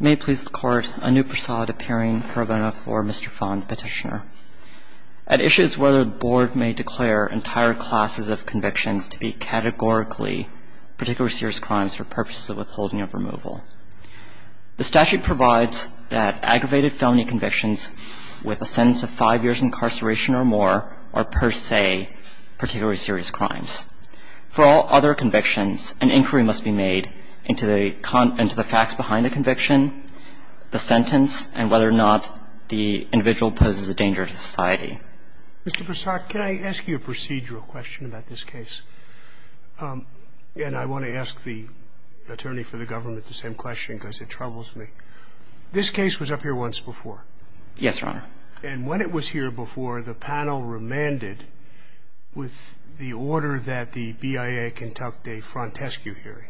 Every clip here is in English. May it please the Court, Anuprasad appearing for a vote for Mr. Phan's petitioner. At issue is whether the Board may declare entire classes of convictions to be categorically particularly serious crimes for purposes of withholding of removal. The statute provides that aggravated felony convictions with a sentence of five years' incarceration or more are per se particularly serious crimes. For all other convictions, an inquiry must be made into the facts behind the conviction, the sentence, and whether or not the individual poses a danger to society. Mr. Prasad, can I ask you a procedural question about this case? And I want to ask the attorney for the government the same question because it troubles me. This case was up here once before. Yes, Your Honor. And when it was here before, the panel remanded with the order that the BIA conduct a frontescue hearing,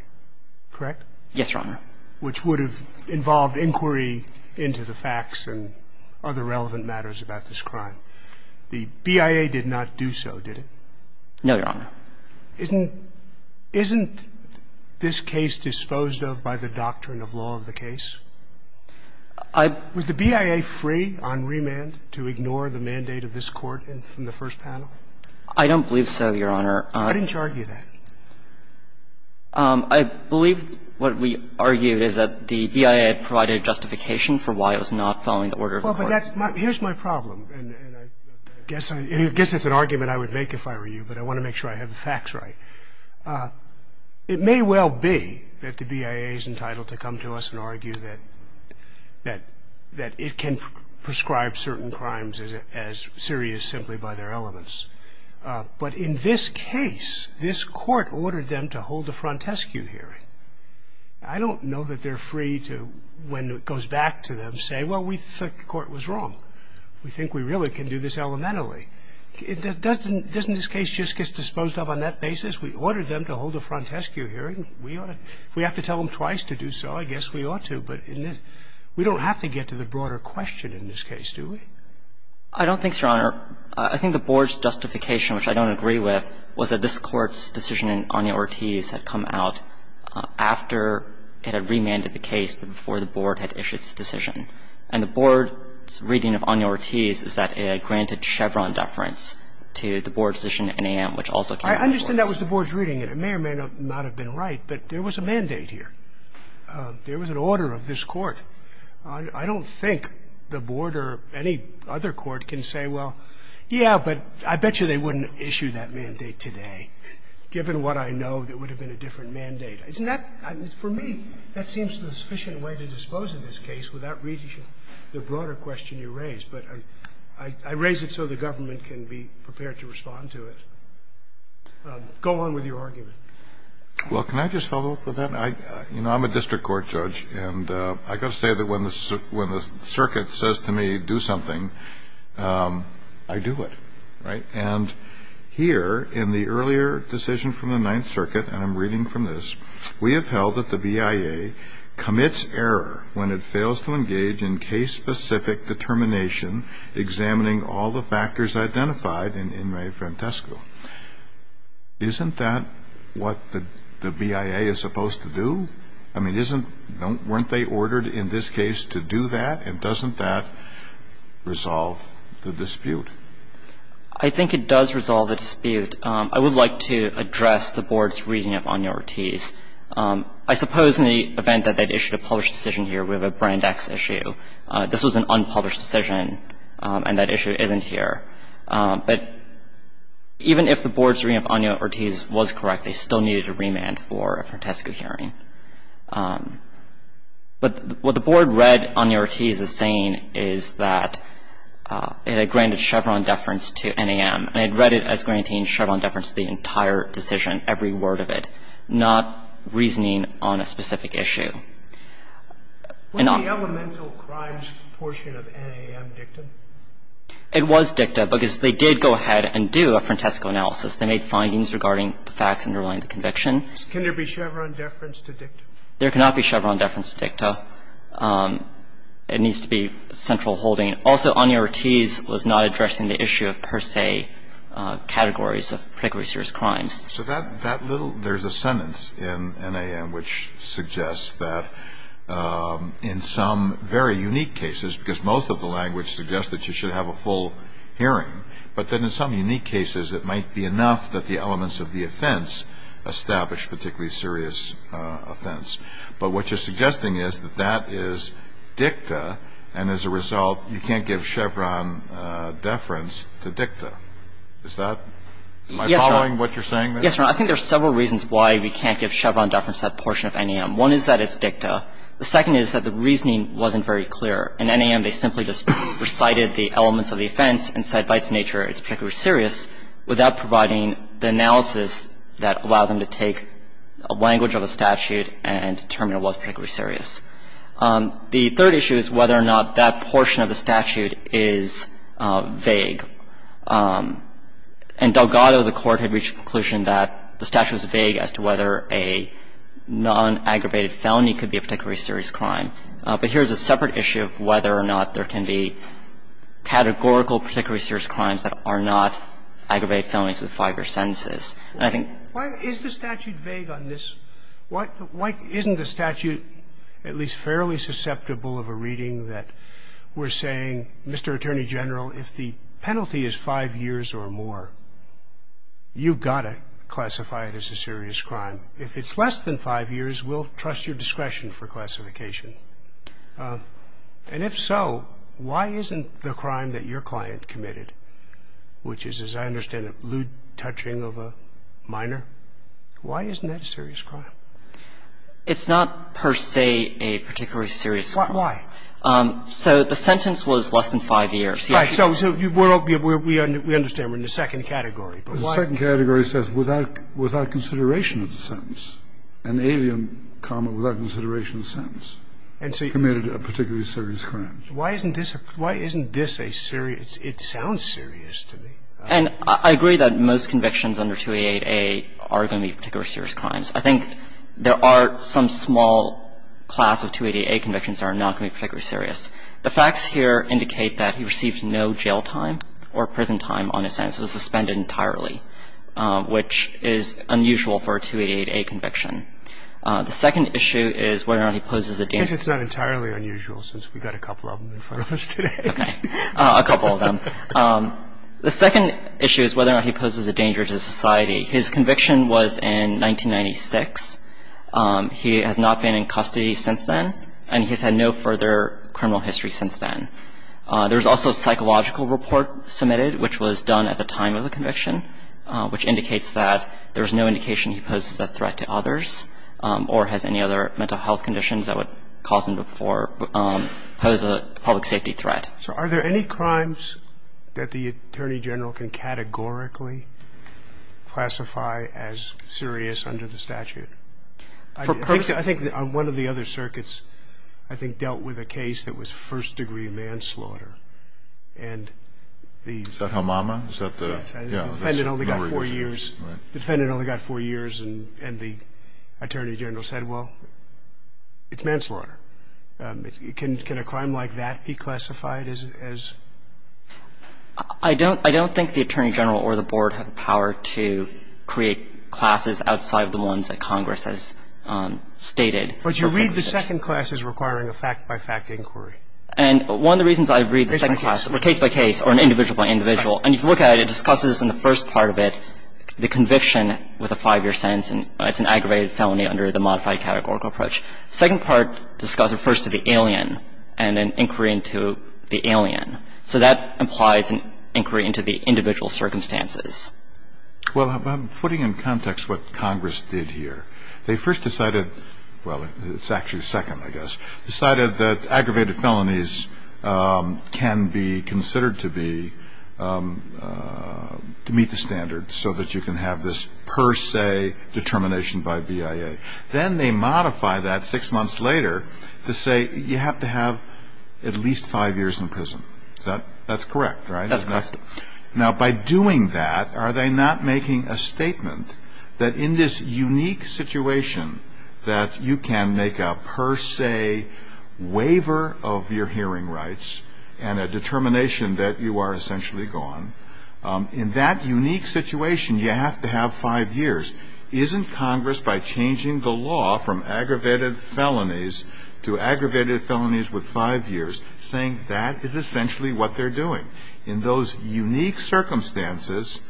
correct? Yes, Your Honor. Which would have involved inquiry into the facts and other relevant matters about this crime. The BIA did not do so, did it? No, Your Honor. Isn't this case disposed of by the doctrine of law of the case? Was the BIA free on remand to ignore the mandate of this Court from the first panel? I don't believe so, Your Honor. Why didn't you argue that? I believe what we argued is that the BIA had provided justification for why it was not following the order of the Court. Well, but that's my – here's my problem, and I guess it's an argument I would make if I were you, but I want to make sure I have the facts right. It may well be that the BIA is entitled to come to us and argue that it can prescribe certain crimes as serious simply by their elements. But in this case, this Court ordered them to hold a frontescue hearing. I don't know that they're free to, when it goes back to them, say, well, we think the Court was wrong. We think we really can do this elementally. Doesn't this case just get disposed of on that basis? We ordered them to hold a frontescue hearing. We ought to – if we have to tell them twice to do so, I guess we ought to. But in this – we don't have to get to the broader question in this case, do we? I don't think so, Your Honor. I think the Board's justification, which I don't agree with, was that this Court's decision in Anya Ortiz had come out after it had remanded the case, but before the Board had issued its decision. And the Board's reading of Anya Ortiz is that it had granted Chevron deference to the Board's decision in Anya, which also came before us. I understand that was the Board's reading. It may or may not have been right, but there was a mandate here. There was an order of this Court. I don't think the Board or any other Court can say, well, yeah, but I bet you they wouldn't issue that mandate today, given what I know that would have been a different mandate. Isn't that – for me, that seems the sufficient way to dispose of this case without reading the broader question you raised. But I raise it so the government can be prepared to respond to it. Go on with your argument. Well, can I just follow up with that? You know, I'm a district court judge, and I've got to say that when the circuit says to me, do something, I do it, right? And here, in the earlier decision from the Ninth Circuit, and I'm reading from this, we have held that the BIA commits error when it fails to engage in case-specific determination examining all the factors identified in Mae Frantesco. Isn't that what the BIA is supposed to do? I mean, isn't – weren't they ordered in this case to do that? And doesn't that resolve the dispute? I think it does resolve the dispute. I would like to address the Board's reading of Año-Ortiz. I suppose in the event that they'd issued a published decision here, we have a Brand X issue. This was an unpublished decision, and that issue isn't here. But even if the Board's reading of Año-Ortiz was correct, they still needed a remand for a Frantesco hearing. But what the Board read Año-Ortiz as saying is that it had granted Chevron deference to NAM, and it read it as granting Chevron deference to the entire decision, every word of it, not reasoning on a specific issue. And on – Was the elemental crimes portion of NAM dicta? It was dicta, because they did go ahead and do a Frantesco analysis. They made findings regarding the facts underlying the conviction. Can there be Chevron deference to dicta? There cannot be Chevron deference to dicta. It needs to be central holding. Also, Año-Ortiz was not addressing the issue of per se categories of particularly serious crimes. So that little – there's a sentence in NAM which suggests that in some very unique cases, because most of the language suggests that you should have a full hearing, but that in some unique cases it might be enough that the elements of the offense establish particularly serious offense. But what you're suggesting is that that is dicta, and as a result, you can't give Chevron deference to dicta. Is that my following, what you're saying there? Yes, Your Honor. I think there's several reasons why we can't give Chevron deference to that portion of NAM. One is that it's dicta. The second is that the reasoning wasn't very clear. In NAM, they simply just recited the elements of the offense and said by its nature it's particularly serious without providing the analysis that allowed them to take a language of a statute and determine it was particularly serious. The third issue is whether or not that portion of the statute is vague. In Delgado, the Court had reached the conclusion that the statute was vague as to whether a non-aggravated felony could be a particularly serious crime. But here's a separate issue of whether or not there can be categorical particularly serious crimes that are not aggravated felonies with five-year sentences. And I think why is the statute vague on this? Why isn't the statute at least fairly susceptible of a reading that we're saying, Mr. Attorney General, if the penalty is five years or more, you've got to classify it as a serious crime. If it's less than five years, we'll trust your discretion for classification. And if so, why isn't the crime that your client committed, which is, as I understand it, lewd touching of a minor, why isn't that a serious crime? It's not per se a particularly serious crime. Why? So the sentence was less than five years. Right. So we understand we're in the second category, but why? The second category says without consideration of the sentence, an alien comment without consideration of the sentence committed a particularly serious crime. Why isn't this a serious – it sounds serious to me. And I agree that most convictions under 288A are going to be particularly serious crimes. I think there are some small class of 288A convictions that are not going to be particularly serious. The facts here indicate that he received no jail time or prison time on his sentence. It was suspended entirely, which is unusual for a 288A conviction. The second issue is whether or not he poses a – I guess it's not entirely unusual since we've got a couple of them in front of us today. Okay. A couple of them. The second issue is whether or not he poses a danger to society. His conviction was in 1996. He has not been in custody since then, and he's had no further criminal history since then. There was also a psychological report submitted, which was done at the time of the conviction, which indicates that there was no indication he poses a threat to others. Or has any other mental health conditions that would cause him to pose a public safety threat. So are there any crimes that the Attorney General can categorically classify as serious under the statute? I think on one of the other circuits, I think, dealt with a case that was first-degree manslaughter. And the – Is that Hamama? Is that the – yeah. The defendant only got four years, and the Attorney General said, well, it's manslaughter. Can a crime like that be classified as – I don't think the Attorney General or the Board have the power to create classes outside of the ones that Congress has stated. But you read the second class as requiring a fact-by-fact inquiry. And one of the reasons I read the second class – Case-by-case. Case-by-case, or an individual-by-individual. And if you look at it, it discusses in the first part of it the conviction with a five-year sentence, and it's an aggravated felony under the modified categorical approach. The second part discusses – refers to the alien and an inquiry into the alien. So that implies an inquiry into the individual circumstances. Well, putting in context what Congress did here, they first decided – well, it's actually second, I guess. Decided that aggravated felonies can be considered to be – to meet the standards so that you can have this per se determination by BIA. Then they modify that six months later to say you have to have at least five years in prison. Is that – that's correct, right? That's correct. Now, by doing that, are they not making a statement that in this unique situation that you can make a per se waiver of your hearing rights and a determination that you are essentially gone? In that unique situation, you have to have five years. Isn't Congress, by changing the law from aggravated felonies to aggravated felonies with five years, saying that is essentially what they're doing? In those unique circumstances,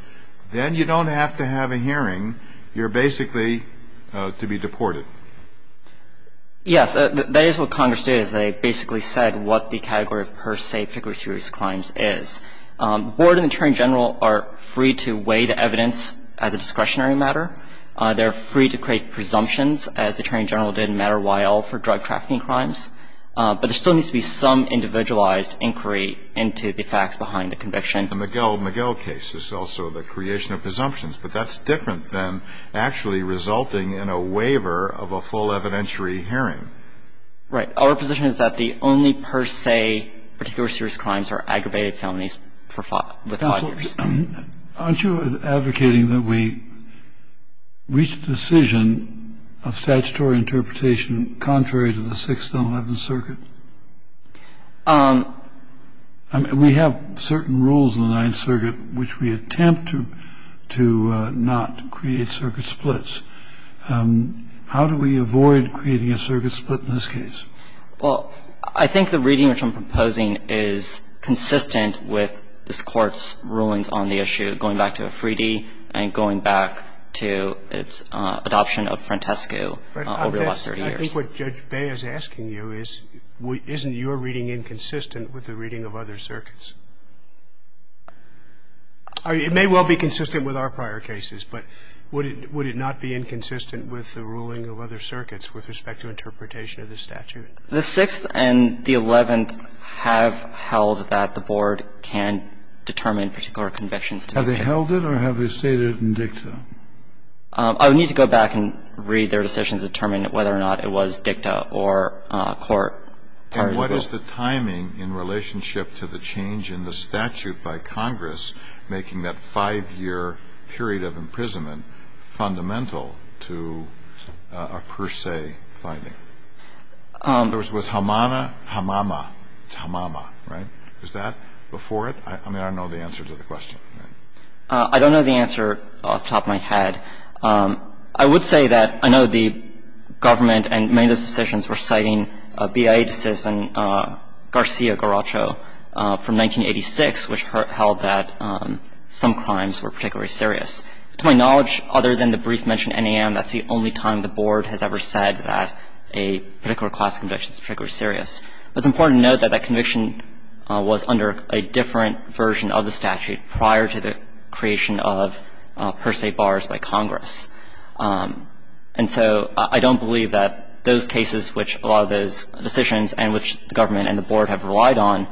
then you don't have to have a hearing. If you have a presumption, you're basically to be deported. Yes. That is what Congress did is they basically said what the category of per se figure of serious crimes is. The Board and the Attorney General are free to weigh the evidence as a discretionary matter. They're free to create presumptions as the Attorney General did in Matter, Y.L. for drug trafficking crimes. But there still needs to be some individualized inquiry into the facts behind the conviction. In the Miguel Miguel case, there's also the creation of presumptions. But that's different than actually resulting in a waiver of a full evidentiary hearing. Right. Our position is that the only per se particular serious crimes are aggravated felonies for five years. Aren't you advocating that we reach a decision of statutory interpretation contrary to the Sixth and Eleventh Circuit? I mean, we have certain rules in the Ninth Circuit which we attempt to not create circuit splits. How do we avoid creating a circuit split in this case? Well, I think the reading which I'm proposing is consistent with this Court's rulings on the issue, going back to Afridi and going back to its adoption of Frantescu over the last 30 years. I think what Judge Bay is asking you is, isn't your reading inconsistent with the reading of other circuits? It may well be consistent with our prior cases, but would it not be inconsistent with the ruling of other circuits with respect to interpretation of the statute? The Sixth and the Eleventh have held that the Board can determine particular convictions to be made. Have they held it or have they stated it in dicta? I would need to go back and read their decisions to determine whether or not it was dicta or court. And what is the timing in relationship to the change in the statute by Congress making that five-year period of imprisonment fundamental to a per se finding? In other words, was Hamama, it's Hamama, right? Is that before it? I mean, I don't know the answer to the question. I don't know the answer off the top of my head. I would say that I know the government and many of those decisions were citing a BIA decision, Garcia-Garacho, from 1986, which held that some crimes were particularly serious. To my knowledge, other than the brief mention of NAM, that's the only time the Board has ever said that a particular class conviction is particularly serious. It's important to note that that conviction was under a different version of the statute prior to the creation of per se bars by Congress. And so I don't believe that those cases which a lot of those decisions and which the government and the Board have relied on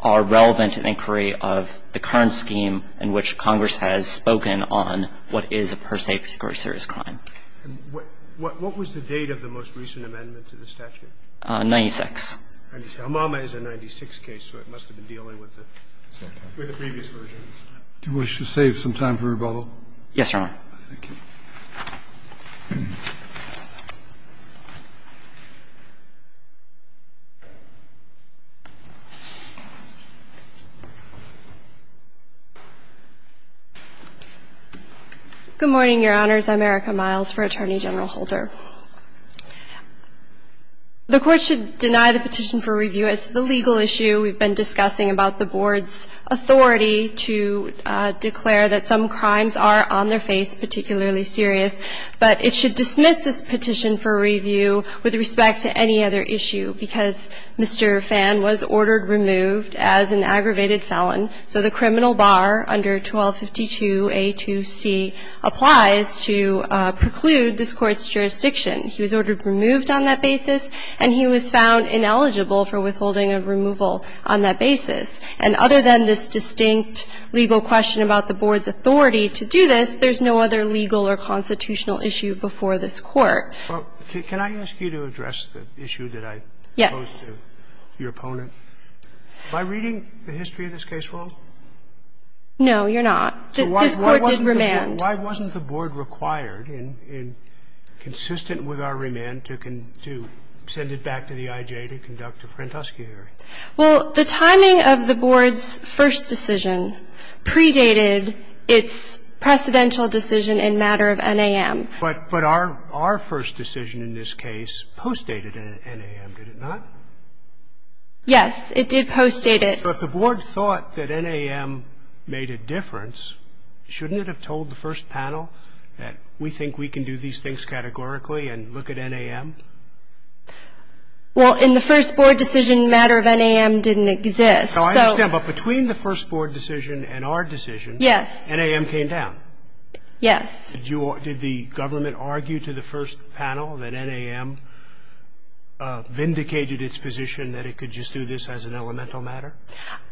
are relevant to the inquiry of the current scheme in which Congress has spoken on what is a per se particularly serious crime. And what was the date of the most recent amendment to the statute? 1996. And Elmama is a 1996 case, so it must have been dealing with the previous version. Do you wish to save some time for rebuttal? Yes, Your Honor. Thank you. Good morning, Your Honors. I'm Erica Miles for Attorney General Holder. The Court should deny the petition for review as to the legal issue we've been discussing about the Board's authority to declare that some crimes are on their face particularly serious, but it should dismiss this petition for review with respect to any other issue, because Mr. Phan was ordered removed as an aggravated felon. So the criminal bar under 1252a2c applies to preclude this Court's jurisdiction. He was ordered removed on that basis, and he was found ineligible for withholding a removal on that basis. And other than this distinct legal question about the Board's authority to do this, there's no other legal or constitutional issue before this Court. Well, can I ask you to address the issue that I posed to your opponent? Am I reading the history of this case well? No, you're not. This Court did remand. Why wasn't the Board required and consistent with our remand to send it back to the IJ to conduct a Frantoski hearing? Well, the timing of the Board's first decision predated its precedential decision in matter of NAM. But our first decision in this case postdated NAM, did it not? Yes. It did postdate it. So if the Board thought that NAM made a difference, shouldn't it have told the first panel that we think we can do these things categorically and look at NAM? Well, in the first Board decision, matter of NAM didn't exist. So I understand. But between the first Board decision and our decision, NAM came down. Yes. Did the government argue to the first panel that NAM vindicated its position and that it could just do this as an elemental matter?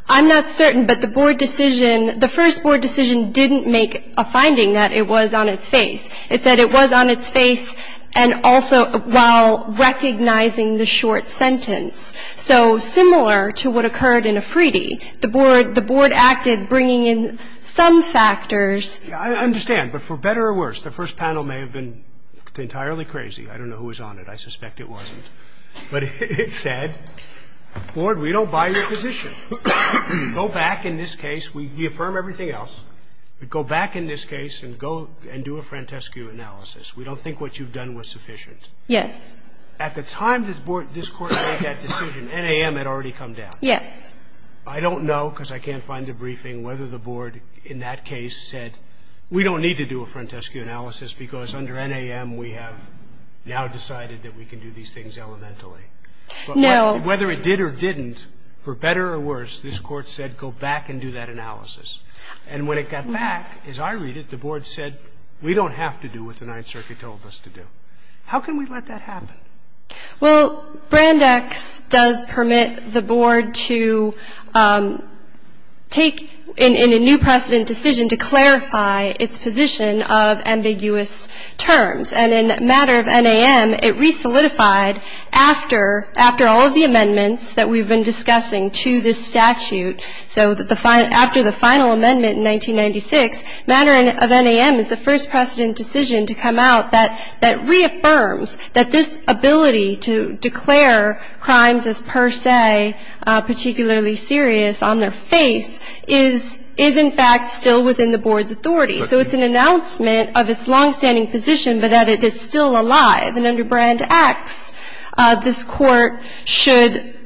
I'm not certain. But the Board decision, the first Board decision didn't make a finding that it was on its face. It said it was on its face and also while recognizing the short sentence. So similar to what occurred in Afridi, the Board acted bringing in some factors. I understand. But for better or worse, the first panel may have been entirely crazy. I don't know who was on it. I suspect it wasn't. But it said, Board, we don't buy your position. Go back in this case. We affirm everything else. But go back in this case and go and do a frantescue analysis. We don't think what you've done was sufficient. Yes. At the time this Court made that decision, NAM had already come down. Yes. I don't know, because I can't find a briefing, whether the Board in that case said, we don't need to do a frantescue analysis because under NAM we have now decided that we can do these things elementally. No. Whether it did or didn't, for better or worse, this Court said, go back and do that analysis. And when it got back, as I read it, the Board said, we don't have to do what the Ninth Circuit told us to do. How can we let that happen? Well, Brand X does permit the Board to take in a new precedent decision to clarify its position of ambiguous terms. And in matter of NAM, it re-solidified after all of the amendments that we've been discussing to this statute. So after the final amendment in 1996, matter of NAM is the first precedent decision to come out that reaffirms that this ability to declare crimes as per se particularly serious on their face is in fact still within the Board's authority. So it's an announcement of its longstanding position, but that it is still alive. And under Brand X, this Court should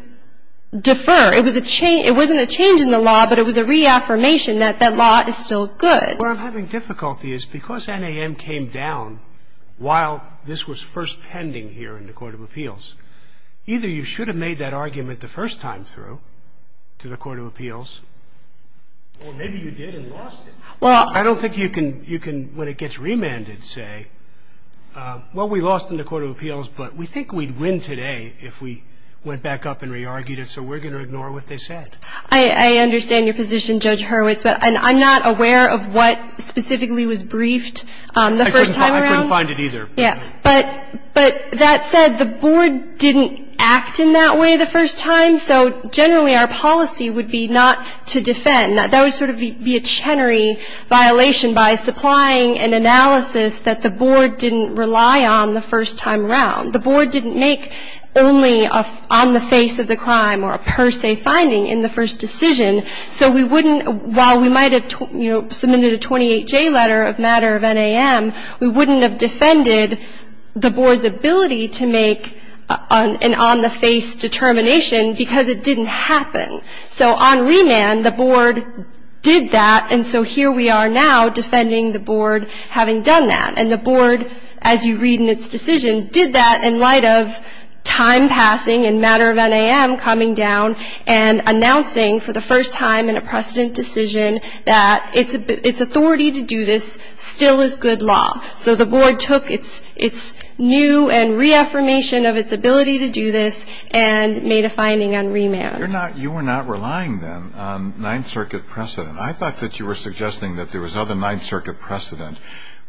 defer. It was a change. It wasn't a change in the law, but it was a reaffirmation that that law is still good. What I'm having difficulty is because NAM came down while this was first pending here in the Court of Appeals, either you should have made that argument the first time through to the Court of Appeals, or maybe you did and lost it. I don't think you can, when it gets remanded, say, well, we lost in the Court of Appeals, but we think we'd win today if we went back up and re-argued it, so we're going to ignore what they said. I understand your position, Judge Hurwitz, but I'm not aware of what specifically was briefed the first time around. I couldn't find it either. Yeah. But that said, the Board didn't act in that way the first time, so generally our policy would be not to defend. That would sort of be a Chenery violation by supplying an analysis that the Board didn't rely on the first time around. The Board didn't make only an on-the-face of the crime or a per se finding in the first decision. So we wouldn't, while we might have, you know, submitted a 28-J letter of matter of NAM, we wouldn't have defended the Board's ability to make an on-the-face determination because it didn't happen. So on remand, the Board did that, and so here we are now defending the Board having done that. And the Board, as you read in its decision, did that in light of time passing and matter of NAM coming down and announcing for the first time in a precedent decision that its authority to do this still is good law. So the Board took its new and reaffirmation of its ability to do this and made a finding on remand. You were not relying, then, on Ninth Circuit precedent. I thought that you were suggesting that there was other Ninth Circuit precedent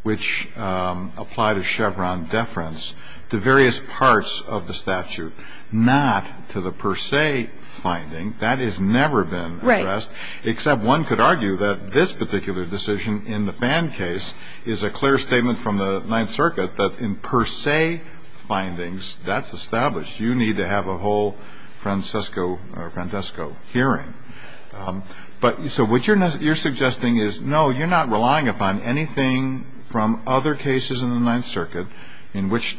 which applied a Chevron deference to various parts of the statute, not to the per se finding. That has never been addressed. Right. Except one could argue that this particular decision in the Fan case is a clear statement from the Ninth Circuit that in per se findings, that's established. You need to have a whole Francesco hearing. So what you're suggesting is, no, you're not relying upon anything from other cases in the Ninth Circuit in which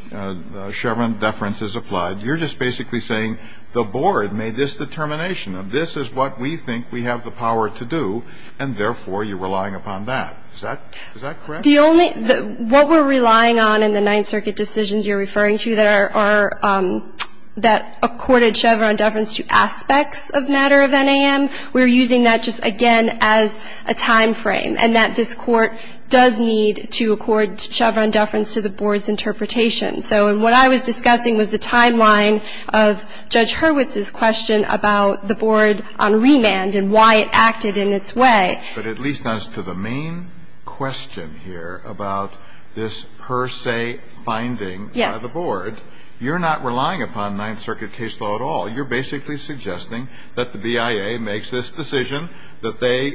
Chevron deference is applied. You're just basically saying the Board made this determination of this is what we think we have the power to do, and therefore you're relying upon that. Is that correct? The only ñ what we're relying on in the Ninth Circuit decisions you're referring to that are ñ that accorded Chevron deference to aspects of matter of NAM, we're using that just, again, as a timeframe, and that this Court does need to accord Chevron deference to the Board's interpretation. So what I was discussing was the timeline of Judge Hurwitz's question about the Board on remand and why it acted in its way. But at least as to the main question here about this per se finding by the Board, you're not relying upon Ninth Circuit case law at all. You're basically suggesting that the BIA makes this decision, that they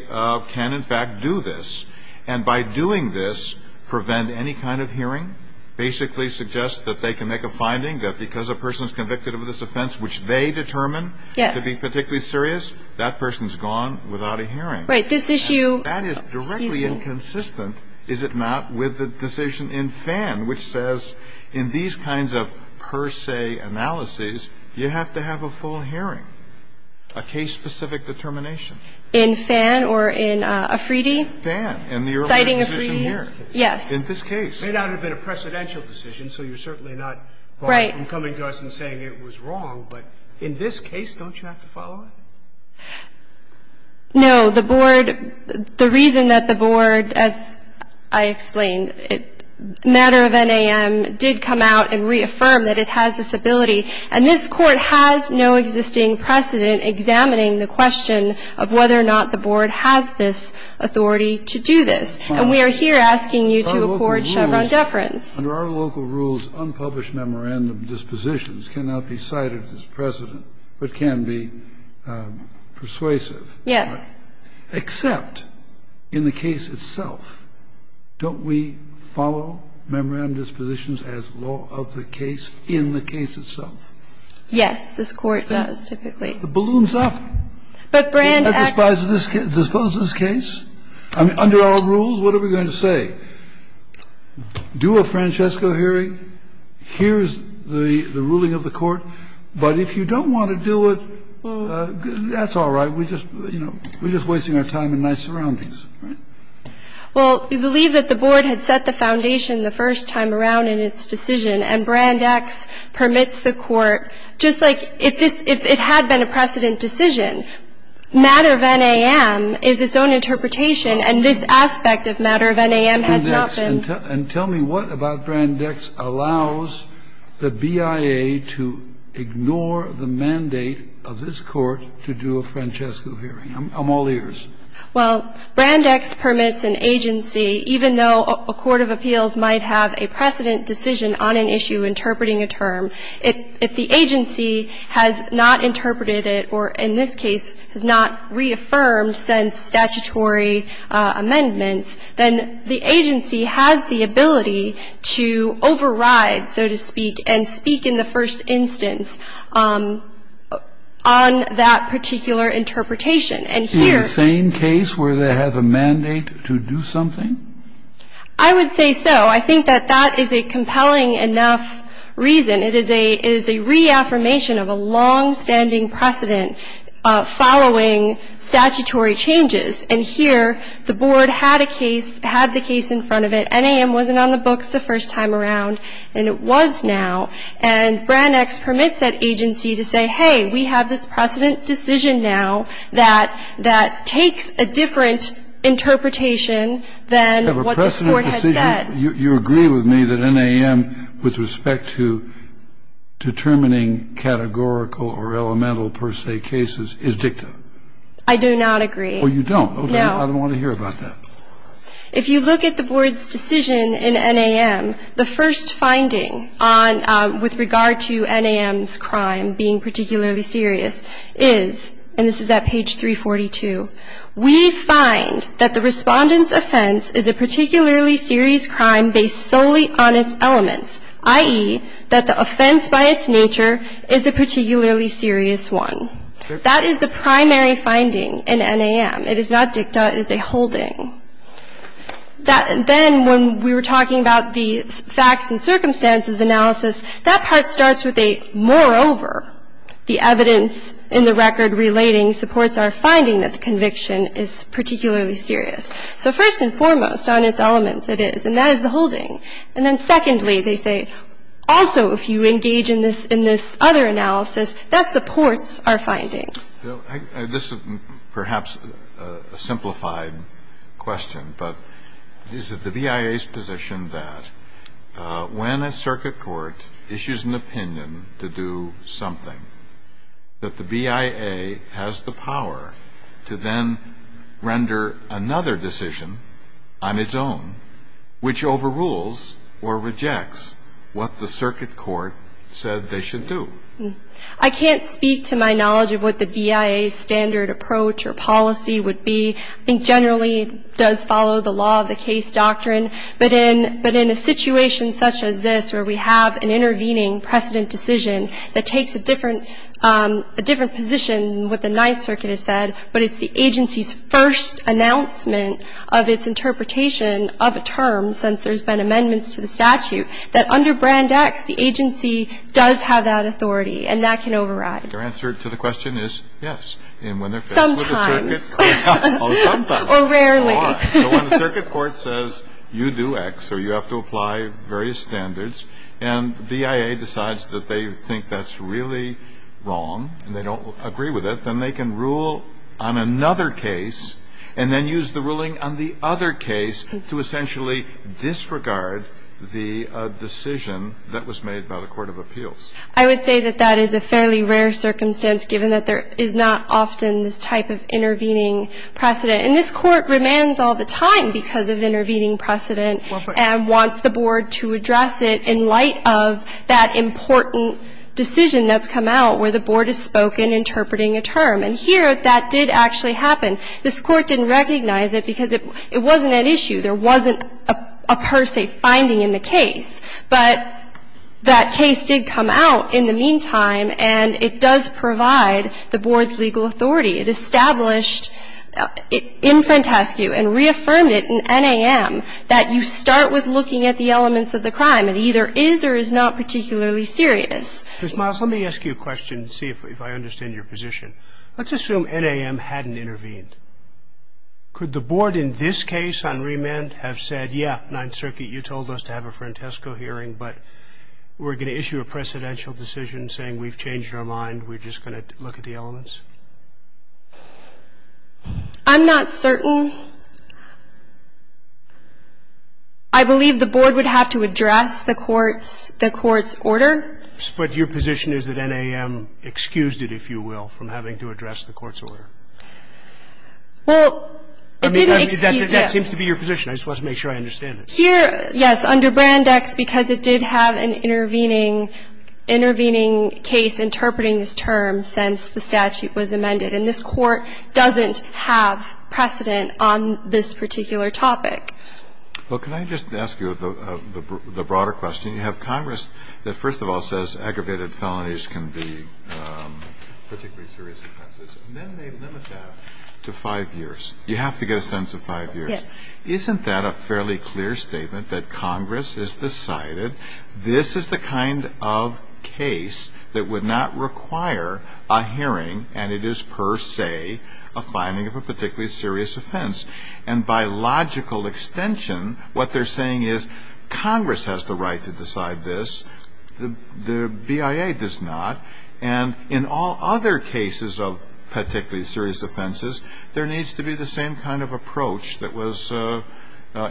can in fact do this, and by doing this, prevent any kind of hearing, basically suggest that they can make a finding that because a person's convicted of this offense which they determine to be particularly serious, that person's gone without a hearing. Right. This issue ñ excuse me. That is directly inconsistent, is it not, with the decision in Fan, which says in these kinds of per se analyses, you have to have a full hearing, a case-specific determination. In Fan or in Afridi? Fan. Citing Afridi. In the earlier decision here. Yes. In this case. It may not have been a precedential decision, so you're certainly not ñ Right. ñ far from coming to us and saying it was wrong. But in this case, don't you have to follow it? No. The board ñ the reason that the board, as I explained, matter of NAM did come out and reaffirm that it has this ability, and this Court has no existing precedent examining the question of whether or not the board has this authority to do this. And we are here asking you to accord Chevron deference. Under our local rules, unpublished memorandum dispositions cannot be cited as precedent but can be persuasive. Yes. Except in the case itself, don't we follow memorandum dispositions as law of the case in the case itself? Yes. This Court does, typically. It balloons up. But Brand actually ñ It disposes this case. I mean, under our rules, what are we going to say? Do a Francesco hearing. Here's the ruling of the Court. But if you don't want to do it, that's all right. We're just, you know, we're just wasting our time in nice surroundings, right? Well, we believe that the board had set the foundation the first time around in its decision, and Brand X permits the Court. Just like if this ñ if it had been a precedent decision, matter of NAM is its own interpretation, and this aspect of matter of NAM has not been. And tell me what about Brand X allows the BIA to ignore the mandate of this Court to do a Francesco hearing? I'm all ears. Well, Brand X permits an agency, even though a court of appeals might have a precedent decision on an issue interpreting a term, if the agency has not interpreted it or, in this case, has not reaffirmed since statutory amendments, then the agency has the ability to override, so to speak, and speak in the first instance on that particular interpretation. And here ñ Is it the same case where they have a mandate to do something? I would say so. I think that that is a compelling enough reason. It is a ñ it is a reaffirmation of a longstanding precedent following statutory changes. And here, the board had a case ñ had the case in front of it. NAM wasn't on the books the first time around, and it was now. And Brand X permits that agency to say, hey, we have this precedent decision now that ñ that takes a different interpretation than what this Court had said. You agree with me that NAM, with respect to determining categorical or elemental per se cases, is dicta? I do not agree. Oh, you don't? No. Okay. I don't want to hear about that. If you look at the board's decision in NAM, the first finding on ñ with regard to NAM's crime being particularly serious is ñ and this is at page 342 ñ we find that the Respondent's offense is a particularly serious crime based solely on its elements, i.e., that the offense by its nature is a particularly serious one. That is the primary finding in NAM. It is not dicta. It is a holding. That ñ then, when we were talking about the facts and circumstances analysis, that part starts with a moreover. The evidence in the record relating supports our finding that the conviction is particularly serious. So first and foremost, on its elements, it is. And that is the holding. And then secondly, they say, also, if you engage in this ñ in this other analysis, that supports our finding. This is perhaps a simplified question, but is it the BIA's position that when a circuit court issues an opinion to do something, that the BIA has the power to then render another decision on its own which overrules or rejects what the circuit court said they should do? I can't speak to my knowledge of what the BIA's standard approach or policy would be. I think generally it does follow the law of the case doctrine. But in ñ but in a situation such as this, where we have an intervening precedent decision that takes a different ñ a different position than what the Ninth Circuit has said, but it's the agency's first announcement of its interpretation of a term, since there's been amendments to the statute, that under Brand X, the agency does have that authority. And that can override. And your answer to the question is yes. And when they're faced with a circuitÖ Sometimes. Sometimes. Or rarely. Or when the circuit court says you do X or you have to apply various standards and the BIA decides that they think that's really wrong and they don't agree with it, then they can rule on another case and then use the ruling on the other case to essentially disregard the decision that was made by the court of appeals. I would say that that is a fairly rare circumstance, given that there is not often this type of intervening precedent. And this Court remands all the time because of intervening precedent and wants the board to address it in light of that important decision that's come out where the board has spoken interpreting a term. And here, that did actually happen. This Court didn't recognize it because it wasn't an issue. There wasn't a per se finding in the case. But that case did come out in the meantime, and it does provide the board's legal authority. It established in Frantescu and reaffirmed it in NAM that you start with looking at the elements of the crime. It either is or is not particularly serious. Ms. Miles, let me ask you a question and see if I understand your position. Let's assume NAM hadn't intervened. Could the board in this case on remand have said, yeah, Ninth Circuit, you told us to have a Frantescu hearing, but we're going to issue a precedential decision saying we've changed our mind, we're just going to look at the elements? I'm not certain. I believe the board would have to address the court's order. But your position is that NAM excused it, if you will, from having to address the court's order. Well, it didn't excuse it. That seems to be your position. I just want to make sure I understand it. Here, yes, under Brand X, because it did have an intervening case interpreting this term since the statute was amended, and this Court doesn't have precedent on this particular topic. Well, can I just ask you the broader question? You have Congress that, first of all, says aggravated felonies can be particularly serious offenses, and then they limit that to 5 years. You have to get a sentence of 5 years. Yes. Isn't that a fairly clear statement that Congress has decided this is the kind of case that would not require a hearing, and it is per se a finding of a particularly serious offense? And by logical extension, what they're saying is Congress has the right to decide this, the BIA does not, and in all other cases of particularly serious offenses, there needs to be the same kind of approach that was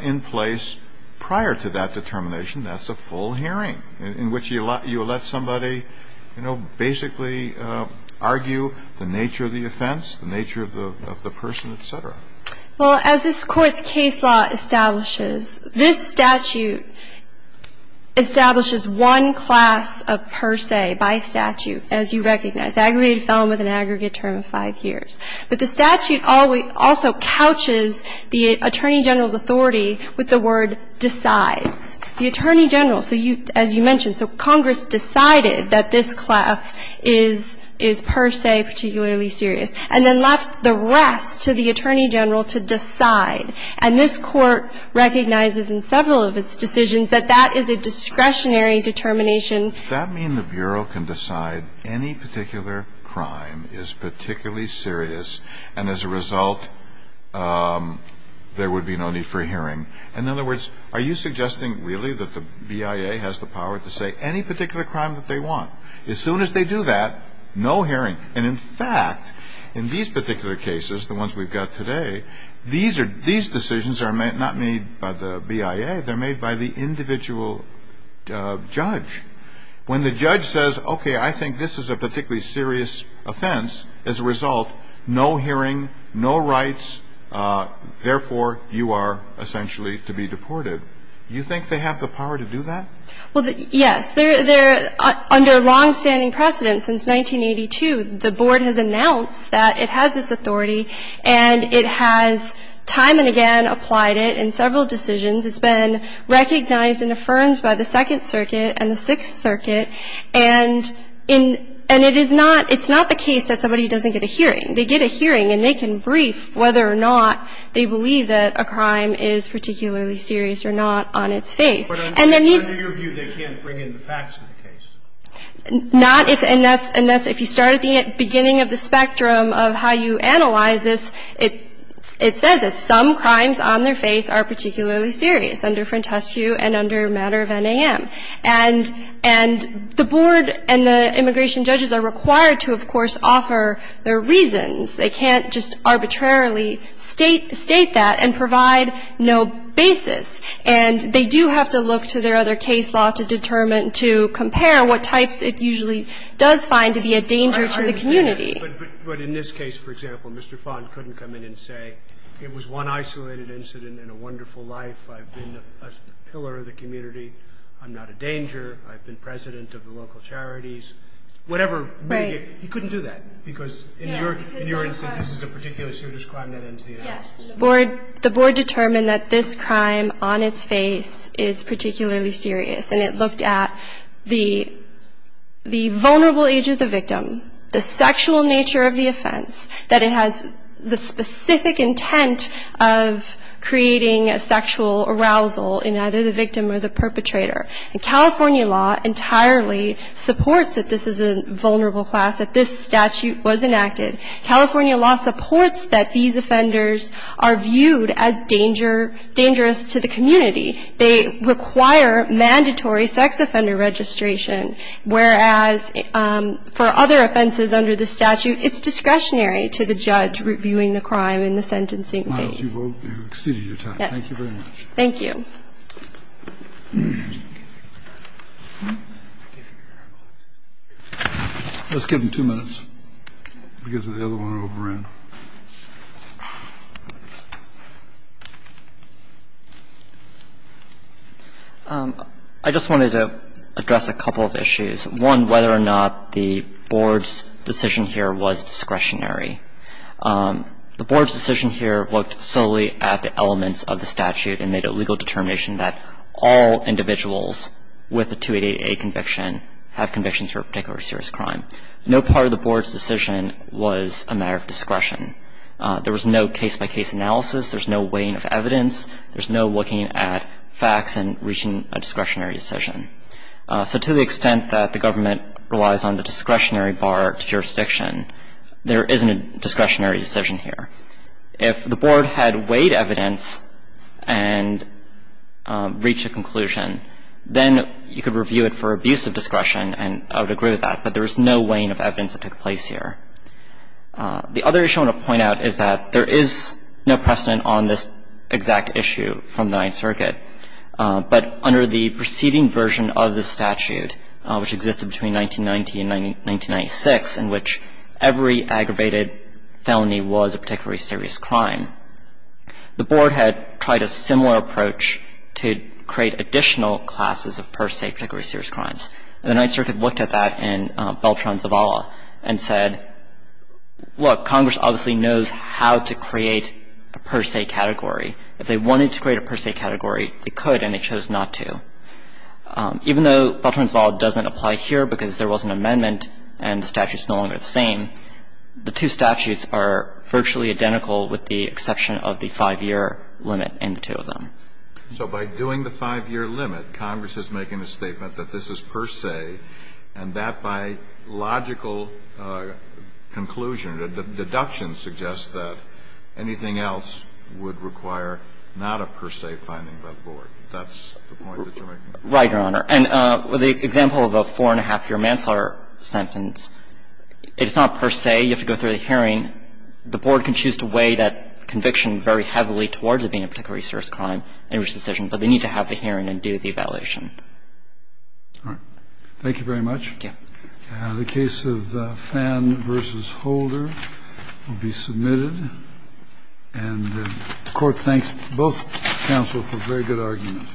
in place prior to that determination. That's a full hearing in which you let somebody, you know, basically argue the nature of the offense, the nature of the person, et cetera. Well, as this Court's case law establishes, this statute establishes one class of per se by statute, as you recognize. Aggravated felon with an aggregate term of 5 years. But the statute also couches the Attorney General's authority with the word per se. So Congress has the right to decide. The Attorney General, as you mentioned, so Congress decided that this class is per se particularly serious, and then left the rest to the Attorney General to decide. And this Court recognizes in several of its decisions that that is a discretionary determination. Does that mean the Bureau can decide any particular crime is particularly serious, and as a result there would be no need for hearing? In other words, are you suggesting really that the BIA has the power to say any particular crime that they want? As soon as they do that, no hearing. And, in fact, in these particular cases, the ones we've got today, these decisions are not made by the BIA. They're made by the individual judge. When the judge says, okay, I think this is a particularly serious offense, as a result, no hearing, no rights, therefore, you are essentially to be deported, you think they have the power to do that? Well, yes. They're under longstanding precedent. Since 1982, the Board has announced that it has this authority, and it has time and again applied it in several decisions. It's been recognized and affirmed by the Second Circuit and the Sixth Circuit, and in – and it is not – it's not the case that somebody doesn't get a hearing. They get a hearing, and they can brief whether or not they believe that a crime is particularly serious or not on its face. And that means – But under your view, they can't bring in the facts of the case. Not if – and that's – and that's if you start at the beginning of the spectrum of how you analyze this, it – it says that some crimes on their face are particularly serious under Frentescue and under matter of NAM. And – and the Board and the immigration judges are required to, of course, offer their reasons. They can't just arbitrarily state – state that and provide no basis. And they do have to look to their other case law to determine – to compare what types it usually does find to be a danger to the community. But – but in this case, for example, Mr. Fond couldn't come in and say, it was one isolated incident in a wonderful life. I've been a pillar of the community. I'm not a danger. I've been president of the local charities. Whatever – Right. He couldn't do that because in your – in your instance, this is a particular serious crime that ends the investigation. Yes. The Board – the Board determined that this crime on its face is particularly serious, and it looked at the – the vulnerable age of the victim, the sexual nature of the offense, that it has the specific intent of creating a sexual arousal in either the victim or the perpetrator. And California law entirely supports that this is a vulnerable class, that this statute was enacted. California law supports that these offenders are viewed as danger – dangerous to the community. They require mandatory sex offender registration, whereas for other offenses under the statute, it's discretionary to the judge reviewing the crime in the sentencing case. You've exceeded your time. Yes. Thank you very much. Thank you. Let's give them two minutes because the other ones are over in. I just wanted to address a couple of issues. One, whether or not the Board's decision here was discretionary. The Board's decision here looked solely at the elements of the statute and made a legal determination that all individuals with a 2888 conviction have convictions for a particular serious crime. No part of the Board's decision was a matter of discretionary. There was no case-by-case analysis. There's no weighing of evidence. There's no looking at facts and reaching a discretionary decision. So to the extent that the government relies on the discretionary bar to jurisdiction, there isn't a discretionary decision here. If the Board had weighed evidence and reached a conclusion, then you could review it for abuse of discretion, and I would agree with that. But there was no weighing of evidence that took place here. The other issue I want to point out is that there is no precedent on this exact issue from the Ninth Circuit. But under the preceding version of the statute, which existed between 1990 and 1996 in which every aggravated felony was a particularly serious crime, the Board had tried a similar approach to create additional classes of per se particularly serious crimes. And the Ninth Circuit looked at that in Beltran-Zavala and said, look, Congress obviously knows how to create a per se category. If they wanted to create a per se category, they could, and they chose not to. Even though Beltran-Zavala doesn't apply here because there was an amendment and the statute's no longer the same, the two statutes are virtually identical with the exception of the five-year limit in the two of them. So by doing the five-year limit, Congress is making a statement that this is per se, and that by logical conclusion, the deduction suggests that anything else would require not a per se finding by the Board. That's the point that you're making? Right, Your Honor. And the example of a four-and-a-half-year manslaughter sentence, it's not per se. You have to go through the hearing. The Board can choose to weigh that conviction very heavily towards it being a particularly serious crime and a risky decision, but they need to have the hearing and do the evaluation. All right. Thank you very much. Thank you. The case of Phan v. Holder will be submitted. And the Court thanks both counsel for a very good argument.